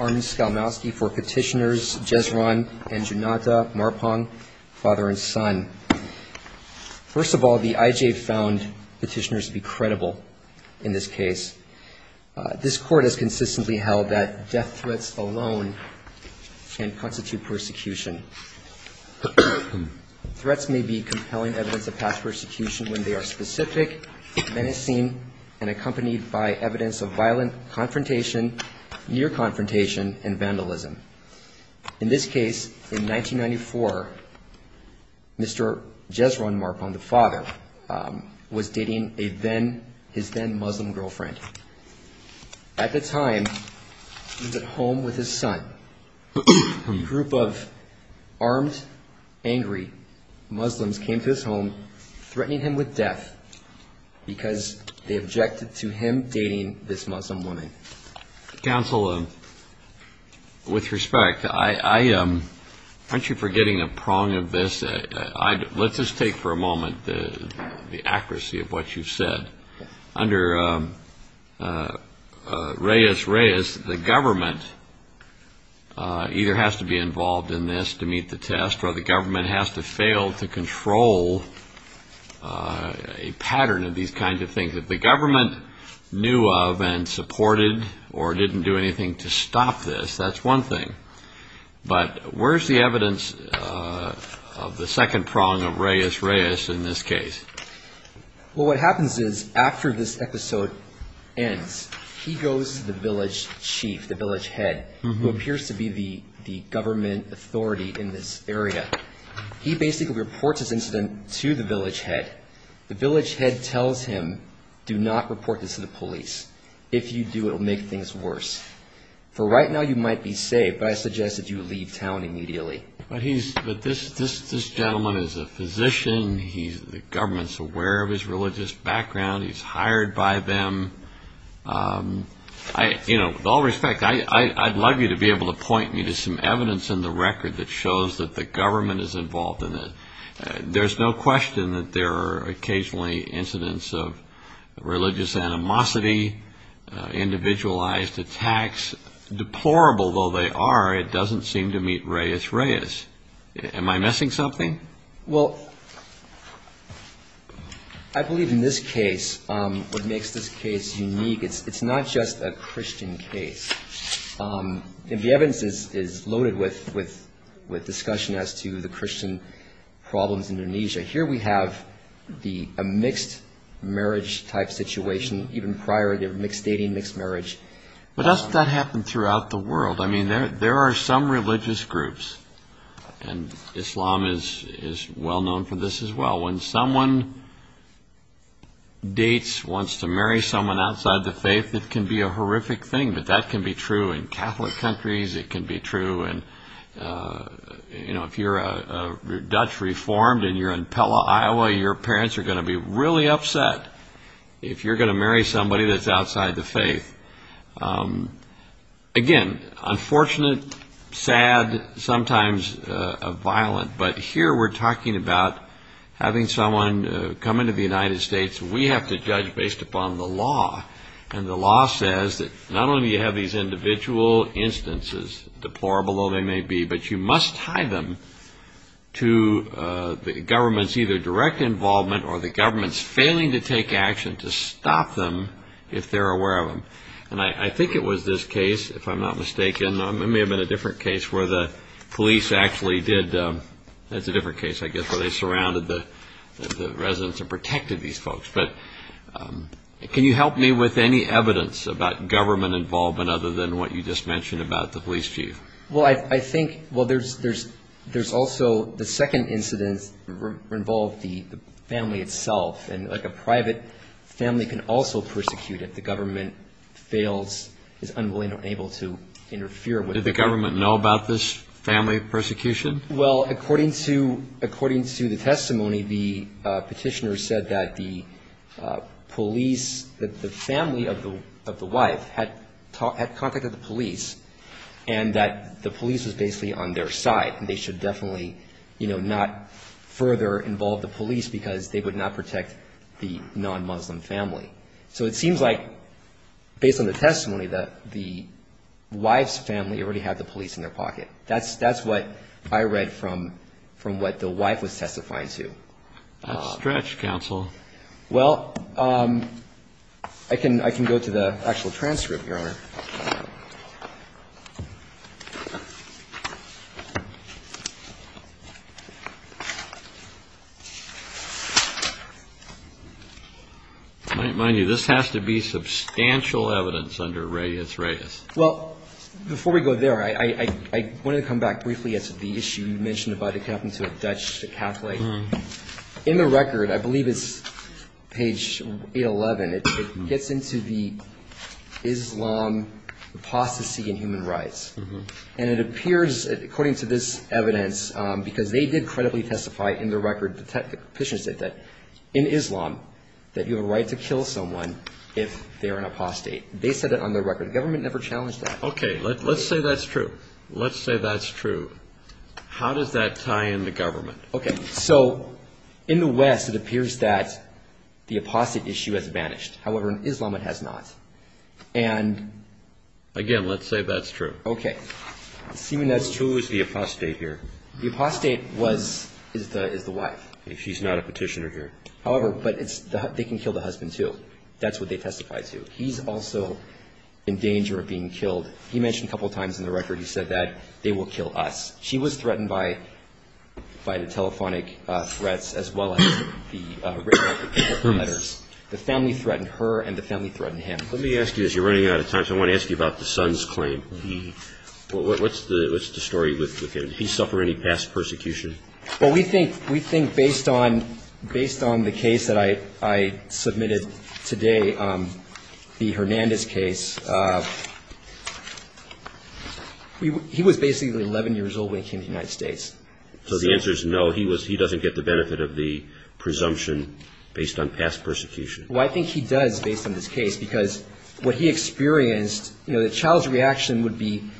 Army Skalmowski for Petitioners Jez Ron and Junata Marpaung, father and son. First of all, the IJA found petitioners to be credible in this case. This court has consistently held that death threats alone can constitute persecution. Threats may be compelling evidence of past persecution when they are specific, menacing, and accompanied by evidence of violent confrontation, near confrontation, and vandalism. In this case, in 1994, Mr. Jez Ron Marpaung, the father, was dating his then-Muslim girlfriend. At the time, he was at home with his son. A group of armed, angry Muslims came to his home, threatening him with death because they objected to him dating this Muslim woman. Counsel, with respect, aren't you forgetting a prong of this? Let's just take for a moment the accuracy of what you've said. Under Reyes-Reyes, the government either has to be involved in this to meet the test, or the government has to fail to control a pattern of these kinds of things. If the government knew of and supported or didn't do anything to stop this, that's one thing. But where's the evidence of the second prong of Reyes-Reyes in this case? Well, what happens is, after this episode ends, he goes to the village chief, the village head, who appears to be the government authority in this area. He basically reports this incident to the village head. The village head tells him, do not report this to the police. If you do, it will make things worse. For right now, you might be saved, but I suggest that you leave town immediately. But this gentleman is a physician. The government's aware of his religious background. He's hired by them. With all respect, I'd love you to be able to point me to some evidence in the record that shows that the government is involved in it. There's no question that there are occasionally incidents of religious animosity, individualized attacks. It's deplorable, though they are, it doesn't seem to meet Reyes-Reyes. Am I missing something? Well, I believe in this case, what makes this case unique, it's not just a Christian case. The evidence is loaded with discussion as to the Christian problems in Indonesia. Here we have a mixed marriage type situation, even prior to mixed dating, mixed marriage. But doesn't that happen throughout the world? I mean, there are some religious groups, and Islam is well known for this as well. When someone dates, wants to marry someone outside the faith, it can be a horrific thing. But that can be true in Catholic countries, it can be true in, you know, if you're a Dutch Reformed and you're in Pella, Iowa, your parents are going to be really upset if you're going to marry somebody that's outside the faith. Again, unfortunate, sad, sometimes violent. But here we're talking about having someone come into the United States we have to judge based upon the law. And the law says that not only do you have these individual instances, deplorable though they may be, but you must tie them to the government's either direct involvement or the government's failing to take action to stop them if they're aware of them. And I think it was this case, if I'm not mistaken, it may have been a different case where the police actually did, that's a different case, I guess, where they surrounded the residents and protected these folks. But can you help me with any evidence about government involvement other than what you just mentioned about the police chief? Well, I think, well, there's also the second incident involved the family itself. And like a private family can also persecute if the government fails, is unwilling or unable to interfere. Did the government know about this family persecution? Well, according to the testimony, the petitioner said that the police, that the family of the wife had contacted the police and that the police was basically on their side and they should definitely, you know, not further involve the police because they would not protect the non-Muslim family. So it seems like based on the testimony that the wife's family already had the police in their pocket. That's what I read from what the wife was testifying to. That's stretched, counsel. Well, I can go to the actual transcript, Your Honor. Mind you, this has to be substantial evidence under Reyes, Reyes. Well, before we go there, I wanted to come back briefly as to the issue you mentioned about it happened to a Dutch Catholic. Right. In the record, I believe it's page 811, it gets into the Islam apostasy and human rights. And it appears, according to this evidence, because they did credibly testify in the record, the petitioner said that, in Islam, that you have a right to kill someone if they are an apostate. They said that on their record. The government never challenged that. Okay. Let's say that's true. Let's say that's true. How does that tie in the government? Okay. So in the West, it appears that the apostate issue has vanished. However, in Islam, it has not. And... Again, let's say that's true. Okay. Assuming that's true... Who is the apostate here? The apostate was, is the wife. She's not a petitioner here. However, but they can kill the husband, too. That's what they testify to. He's also in danger of being killed. He mentioned a couple times in the record, he said that they will kill us. She was threatened by the telephonic threats as well as the written letters. The family threatened her and the family threatened him. Let me ask you, as you're running out of time, I want to ask you about the son's claim. What's the story with him? Did he suffer any past persecution? Well, we think based on the case that I submitted today, the Hernandez case, he was basically 11 years old when he came to the United States. So the answer is no, he doesn't get the benefit of the presumption based on past persecution. Well, I think he does, based on this case, because what he experienced, you know, the child's reaction would be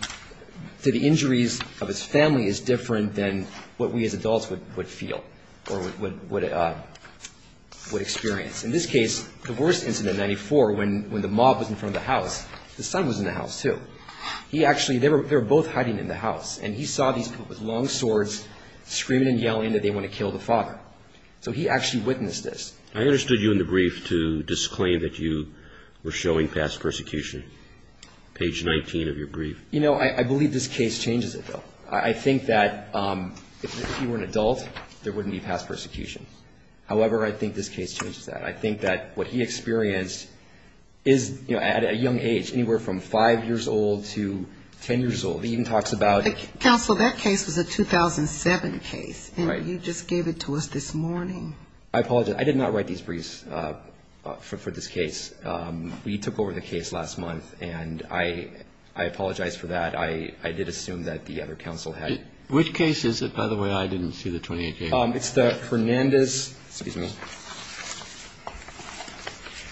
to the injuries of his family is different than what we as adults would feel or would experience. In this case, the worst incident in 1994, when the mob was in front of the house, the son was in the house, too. He actually, they were both hiding in the house, and he saw these people with long swords screaming and yelling that they want to kill the father. So he actually witnessed this. I understood you in the brief to disclaim that you were showing past persecution. Page 19 of your brief. You know, I believe this case changes it, though. I think that if he were an adult, there wouldn't be past persecution. However, I think this case changes that. I think that what he experienced is, you know, at a young age, anywhere from 5 years old to 10 years old. He even talks about it. Counsel, that case was a 2007 case. Right. And you just gave it to us this morning. I apologize. I did not write these briefs for this case. We took over the case last month, and I apologize for that. I did assume that the other counsel had. Which case is it, by the way? I didn't see the 28th case. It's the Fernandez. Excuse me.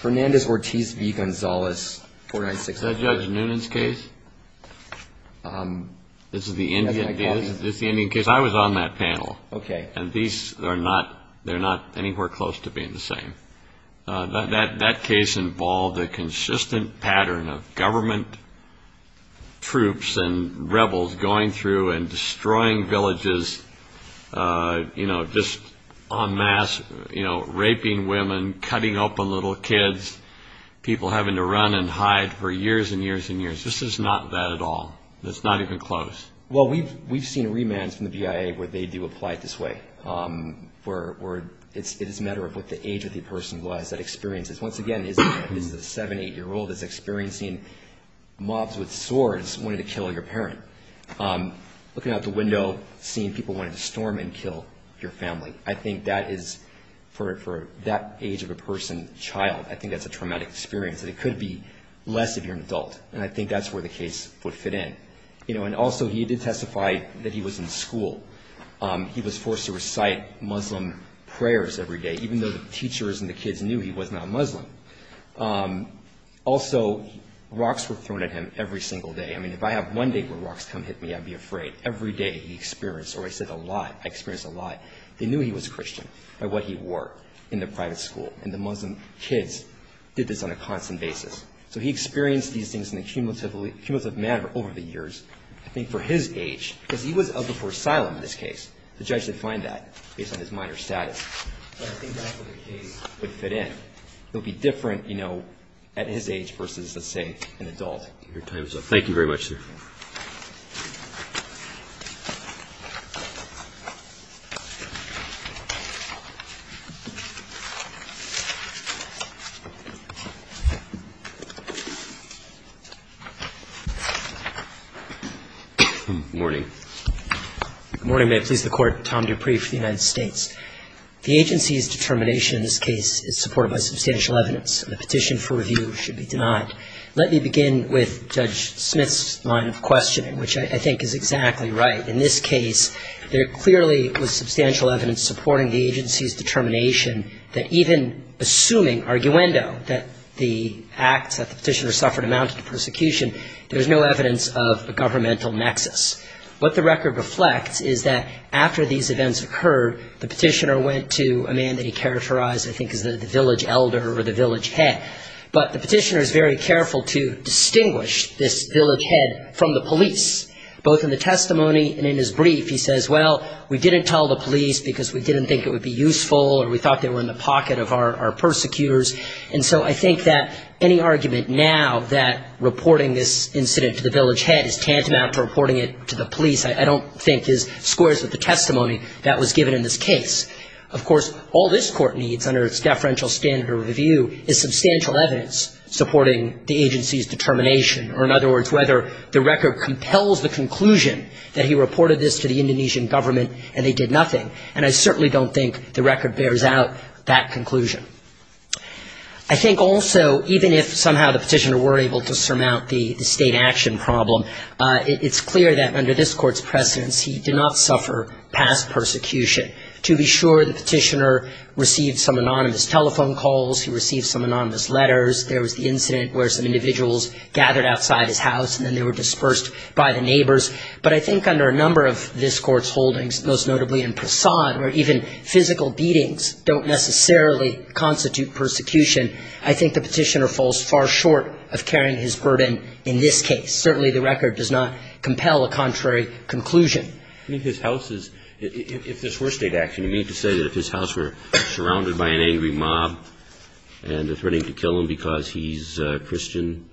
Fernandez-Ortiz v. Gonzales 4964. Is that Judge Noonan's case? This is the Indian case. I was on that panel. Okay. And these are not anywhere close to being the same. That case involved a consistent pattern of government troops and rebels going through and destroying villages, you know, just en masse, you know, raping women, cutting open little kids, people having to run and hide for years and years and years. This is not that at all. It's not even close. Well, we've seen remands from the BIA where they do apply it this way, where it is a matter of what the age of the person was that experiences. Once again, this is a 7-, 8-year-old that's experiencing mobs with swords wanting to kill your parent. Looking out the window, seeing people wanting to storm and kill your family, I think that is, for that age of a person, child, I think that's a traumatic experience. It could be less if you're an adult, and I think that's where the case would fit in. You know, and also he did testify that he was in school. He was forced to recite Muslim prayers every day, even though the teachers and the kids knew he was not Muslim. Also, rocks were thrown at him every single day. I mean, if I have one day where rocks come hit me, I'd be afraid. Every day he experienced, or I said a lot, I experienced a lot. They knew he was Christian by what he wore in the private school, and the Muslim kids did this on a constant basis. So he experienced these things in a cumulative manner over the years. I think for his age, because he was eligible for asylum in this case, the judge defined that based on his minor status. But I think that's where the case would fit in. It would be different, you know, at his age versus, let's say, an adult. Your time is up. Thank you very much, sir. Good morning. Good morning. May it please the Court. Tom Dupree for the United States. The agency's determination in this case is supported by substantial evidence, and the petition for review should be denied. Let me begin with Judge Smith's line of questioning, which I think is exactly right. In this case, there clearly was substantial evidence supporting the agency's determination that even assuming arguendo, that the acts that the petitioner suffered amounted to persecution, there's no evidence of a governmental nexus. What the record reflects is that after these events occurred, the petitioner went to a man that he characterized, I think, as the village elder or the village head. But the petitioner is very careful to distinguish this village head from the police, both in the testimony and in his brief. He says, well, we didn't tell the police because we didn't think it would be useful or we thought they were in the pocket of our persecutors. And so I think that any argument now that reporting this incident to the village head is tantamount to reporting it to the police, I don't think, is square with the testimony that was given in this case. Of course, all this Court needs under its deferential standard of review is substantial evidence supporting the agency's determination, or in other words, whether the record compels the conclusion that he reported this to the Indonesian government and they did nothing. And I certainly don't think the record bears out that conclusion. I think also, even if somehow the petitioner were able to surmount the state action problem, it's clear that under this Court's precedence, he did not suffer past persecution. To be sure, the petitioner received some anonymous telephone calls. He received some anonymous letters. There was the incident where some individuals gathered outside his house and then they were dispersed by the neighbors. But I think under a number of this Court's holdings, most notably in Prasad, where even physical beatings don't necessarily constitute persecution, I think the petitioner falls far short of carrying his burden in this case. Certainly the record does not compel a contrary conclusion. I think his house is, if this were state action, you need to say that if his house were surrounded by an angry mob and they're threatening to kill him because he's a Christian,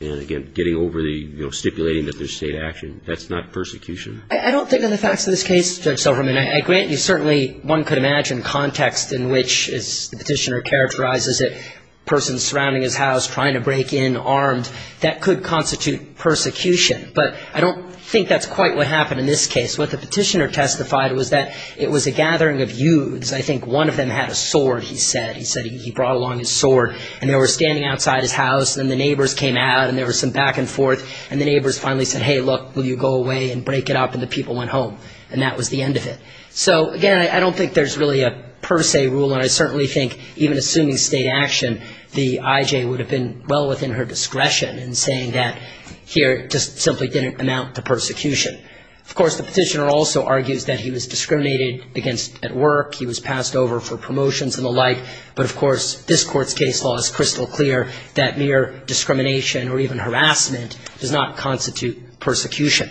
and again, getting overly, you know, stipulating that there's state action. That's not persecution. I don't think in the facts of this case, Judge Silverman, I grant you certainly one could imagine context in which, as the petitioner characterizes it, persons surrounding his house trying to break in armed, that could constitute persecution. But I don't think that's quite what happened in this case. What the petitioner testified was that it was a gathering of youths. I think one of them had a sword, he said. He said he brought along his sword and they were standing outside his house and then the neighbors came out and there was some back and forth, and the neighbors finally said, hey, look, will you go away and break it up, and the people went home, and that was the end of it. So, again, I don't think there's really a per se rule, and I certainly think even assuming state action, the IJ would have been well within her discretion in saying that here, it just simply didn't amount to persecution. Of course, the petitioner also argues that he was discriminated against at work, he was passed over for promotions and the like, but, of course, this Court's case law is crystal clear that mere discrimination or even harassment does not constitute persecution.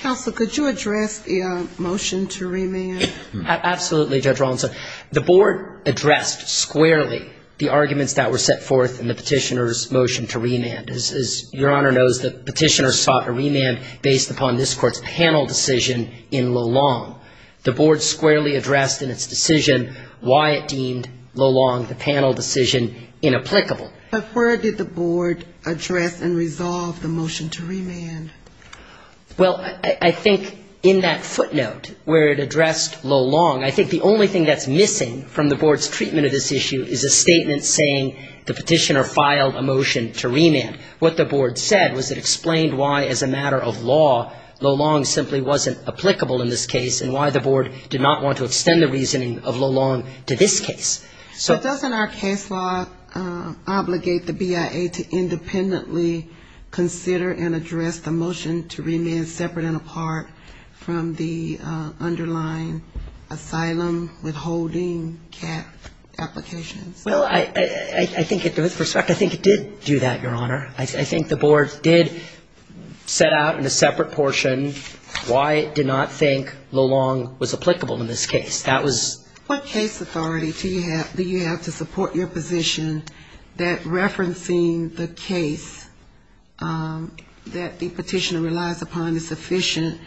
Counsel, could you address the motion to remand? Absolutely, Judge Rawlinson. The Board addressed squarely the arguments that were set forth in the petitioner's motion to remand. As Your Honor knows, the petitioner sought a remand based upon this Court's panel decision in Lalonde. The Board squarely addressed in its decision why it deemed Lalonde, the panel decision, inapplicable. But where did the Board address and resolve the motion to remand? Well, I think in that footnote where it addressed Lalonde, I think the only thing that's missing from the Board's treatment of this issue is a statement saying the petitioner filed a motion to remand. What the Board said was it explained why, as a matter of law, Lalonde simply wasn't applicable in this case and why the Board did not want to extend the reasoning of Lalonde to this case. So doesn't our case law obligate the BIA to independently consider and address the motion to remand separate and apart from the underlying asylum withholding CAF applications? Well, I think with respect, I think it did do that, Your Honor. I think the Board did set out in a separate portion why it did not think Lalonde was applicable in this case. That was ---- What case authority do you have to support your position that referencing the case that the petitioner relies upon is sufficient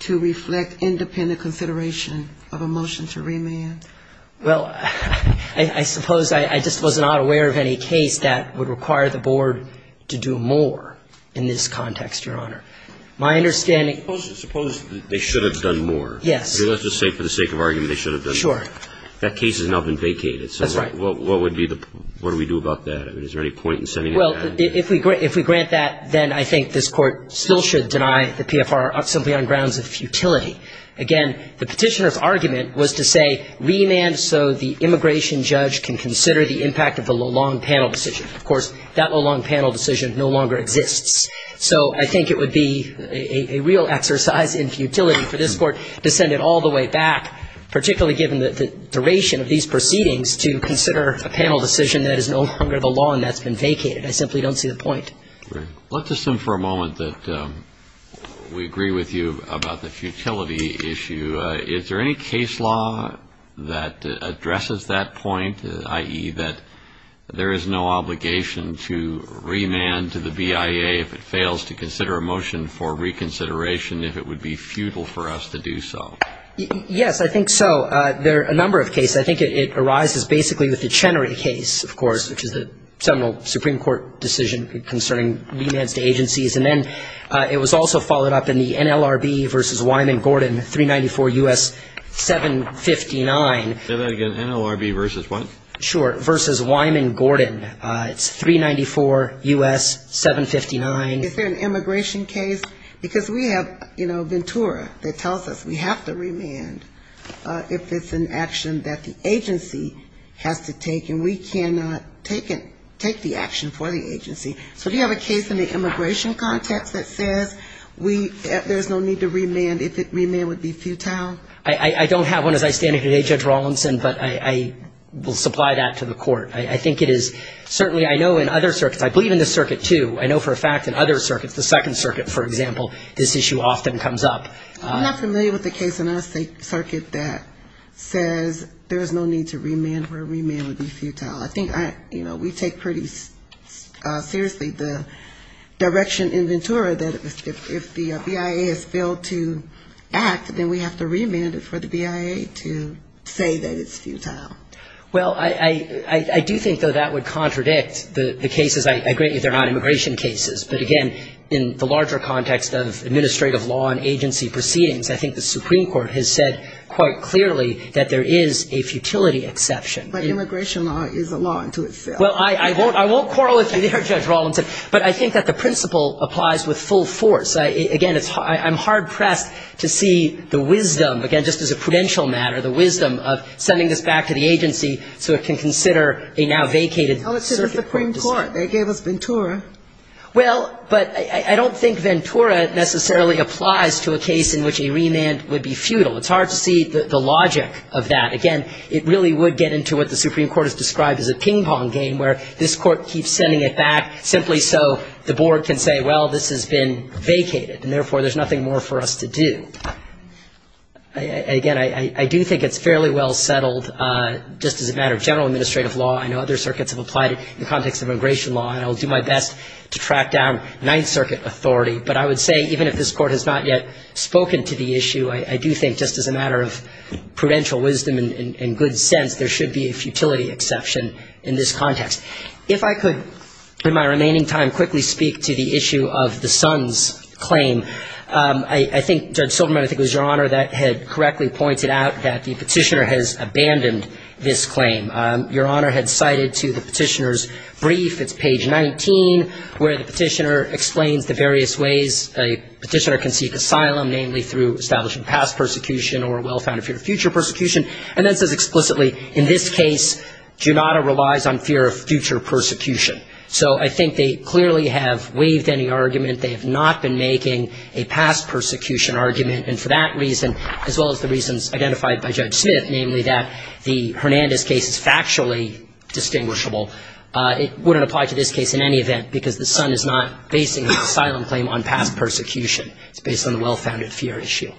to reflect independent consideration of a motion to remand? Well, I suppose I just was not aware of any case that would require the Board to do more in this context, Your Honor. My understanding ---- Suppose they should have done more. Yes. Let's just say for the sake of argument they should have done more. Sure. That case has now been vacated. That's right. So what would be the ---- what do we do about that? I mean, is there any point in sending it back? Well, if we grant that, then I think this Court still should deny the PFR simply on grounds of futility. Again, the petitioner's argument was to say remand so the immigration judge can consider the impact of the Lalonde panel decision. Of course, that Lalonde panel decision no longer exists. So I think it would be a real exercise in futility for this Court to send it all the way back, particularly given the duration of these proceedings, to consider a panel decision that is no longer the law and that's been vacated. I simply don't see the point. Let's assume for a moment that we agree with you about the futility issue. Is there any case law that addresses that point, i.e., that there is no obligation to remand to the BIA if it fails to consider a motion for reconsideration, if it would be futile for us to do so? Yes, I think so. There are a number of cases. I think it arises basically with the Chenery case, of course, which is a seminal Supreme Court decision concerning remands to agencies. And then it was also followed up in the NLRB v. Wyman Gordon, 394 U.S. 759. Say that again, NLRB v. what? Sure, v. Wyman Gordon. It's 394 U.S. 759. Is there an immigration case? Because we have, you know, Ventura that tells us we have to remand if it's an action that the agency has to take, and we cannot take the action for the agency. So do you have a case in the immigration context that says there's no need to remand if remand would be futile? I don't have one as I stand here today, Judge Rawlinson, but I will supply that to the court. I think it is certainly I know in other circuits, I believe in this circuit, too. I know for a fact in other circuits, the Second Circuit, for example, this issue often comes up. I'm not familiar with the case in our circuit that says there's no need to remand where remand would be futile. I think, you know, we take pretty seriously the direction in Ventura that if the BIA has failed to act, then we have to remand it for the BIA to say that it's futile. Well, I do think, though, that would contradict the cases, I agree, if they're not immigration cases. But again, in the larger context of administrative law and agency proceedings, I think the Supreme Court has said quite clearly that there is a futility exception. But immigration law is a law unto itself. Well, I won't quarrel with you there, Judge Rawlinson, but I think that the principle applies with full force. Again, I'm hard-pressed to see the wisdom, again, just as a prudential matter, the wisdom of sending this back to the agency so it can consider a now vacated circuit. Oh, it's to the Supreme Court. They gave us Ventura. Well, but I don't think Ventura necessarily applies to a case in which a remand would be futile. It's hard to see the logic of that. Again, it really would get into what the Supreme Court has described as a ping-pong game where this Court keeps sending it back simply so the board can say, well, this has been vacated, and therefore there's nothing more for us to do. Again, I do think it's fairly well settled just as a matter of general administrative law. I know other circuits have applied it in the context of immigration law, and I'll do my best to track down Ninth Circuit authority. But I would say even if this Court has not yet spoken to the issue, I do think just as a matter of prudential wisdom and good sense, there should be a futility exception in this context. If I could, in my remaining time, quickly speak to the issue of the Sons claim, I think Judge Silverman, I think it was Your Honor, that had correctly pointed out that the Petitioner has abandoned this claim. Your Honor had cited to the Petitioner's brief, it's page 19, where the Petitioner explains the various ways a Petitioner can seek asylum, namely through establishing past persecution or well-founded fear of future persecution, and then says explicitly, in this case, Junauda relies on fear of future persecution. So I think they clearly have waived any argument. They have not been making a past persecution argument. And for that reason, as well as the reasons identified by Judge Smith, namely that the Hernandez case is factually distinguishable, it wouldn't apply to this case in any event, because the Son is not basing the asylum claim on past persecution. It's based on the well-founded fear issue.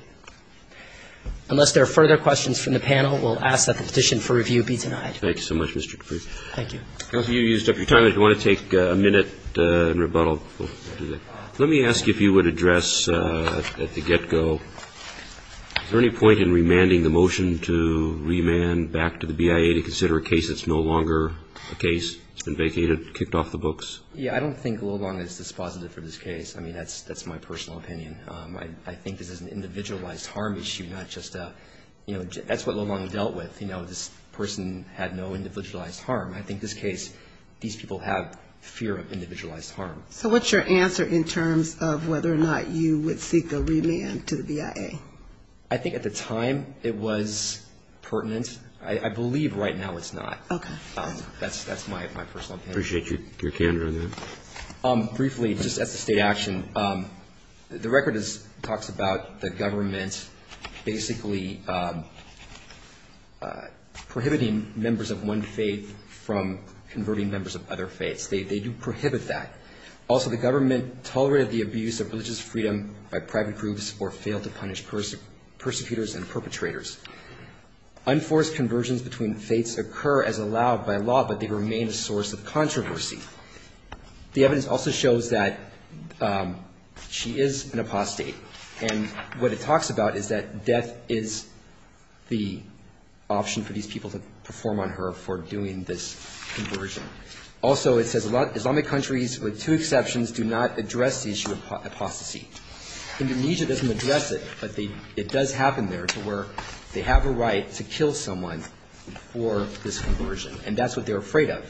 Unless there are further questions from the panel, we'll ask that the petition for review be denied. Thank you so much, Mr. Dupree. Dupree. Thank you. I don't know if you used up your time. If you want to take a minute and rebuttal, we'll do that. Let me ask you if you would address at the get-go, is there any point in remanding the motion to remand back to the BIA to consider a case that's no longer a case? It's been vacated, kicked off the books? Yeah, I don't think Lulong is dispositive for this case. I mean, that's my personal opinion. I think this is an individualized harm issue, not just a, you know, that's what Lulong dealt with. You know, this person had no individualized harm. I think this case, these people have fear of individualized harm. So what's your answer in terms of whether or not you would seek a remand to the BIA? I think at the time it was pertinent. I believe right now it's not. Okay. That's my personal opinion. Appreciate your candor on that. Briefly, just as a state action, the record talks about the government basically prohibiting members of one faith from converting members of other faiths. They do prohibit that. Also, the government tolerated the abuse of religious freedom by private groups or failed to punish persecutors and perpetrators. Unforced conversions between faiths occur as allowed by law, but they remain a source of controversy. The evidence also shows that she is an apostate, and what it talks about is that death is the option for these people to perform on her for doing this conversion. Also, it says Islamic countries with two exceptions do not address the issue of apostasy. Indonesia doesn't address it, but it does happen there to where they have a right to kill someone for this conversion, and that's what they're afraid of.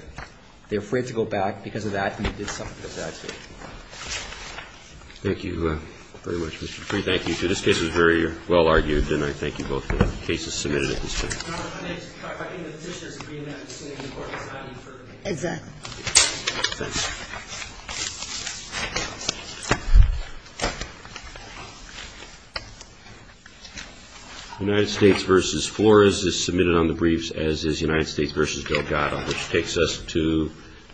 They're afraid to go back because of that, and they did suffer because of that. Thank you very much, Mr. Petree. Thank you, too. This case was very well argued, and I thank you both for the cases submitted at this time. I think the petitioner is agreeing that it's going to be an important signing. Exactly. Thanks. United States v. Flores is submitted on the briefs, as is United States v. Delgado, which takes us to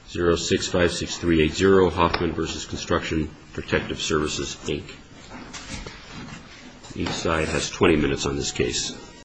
0656380, Hoffman v. Construction Protective Services, Inc. Each side has 20 minutes on this case.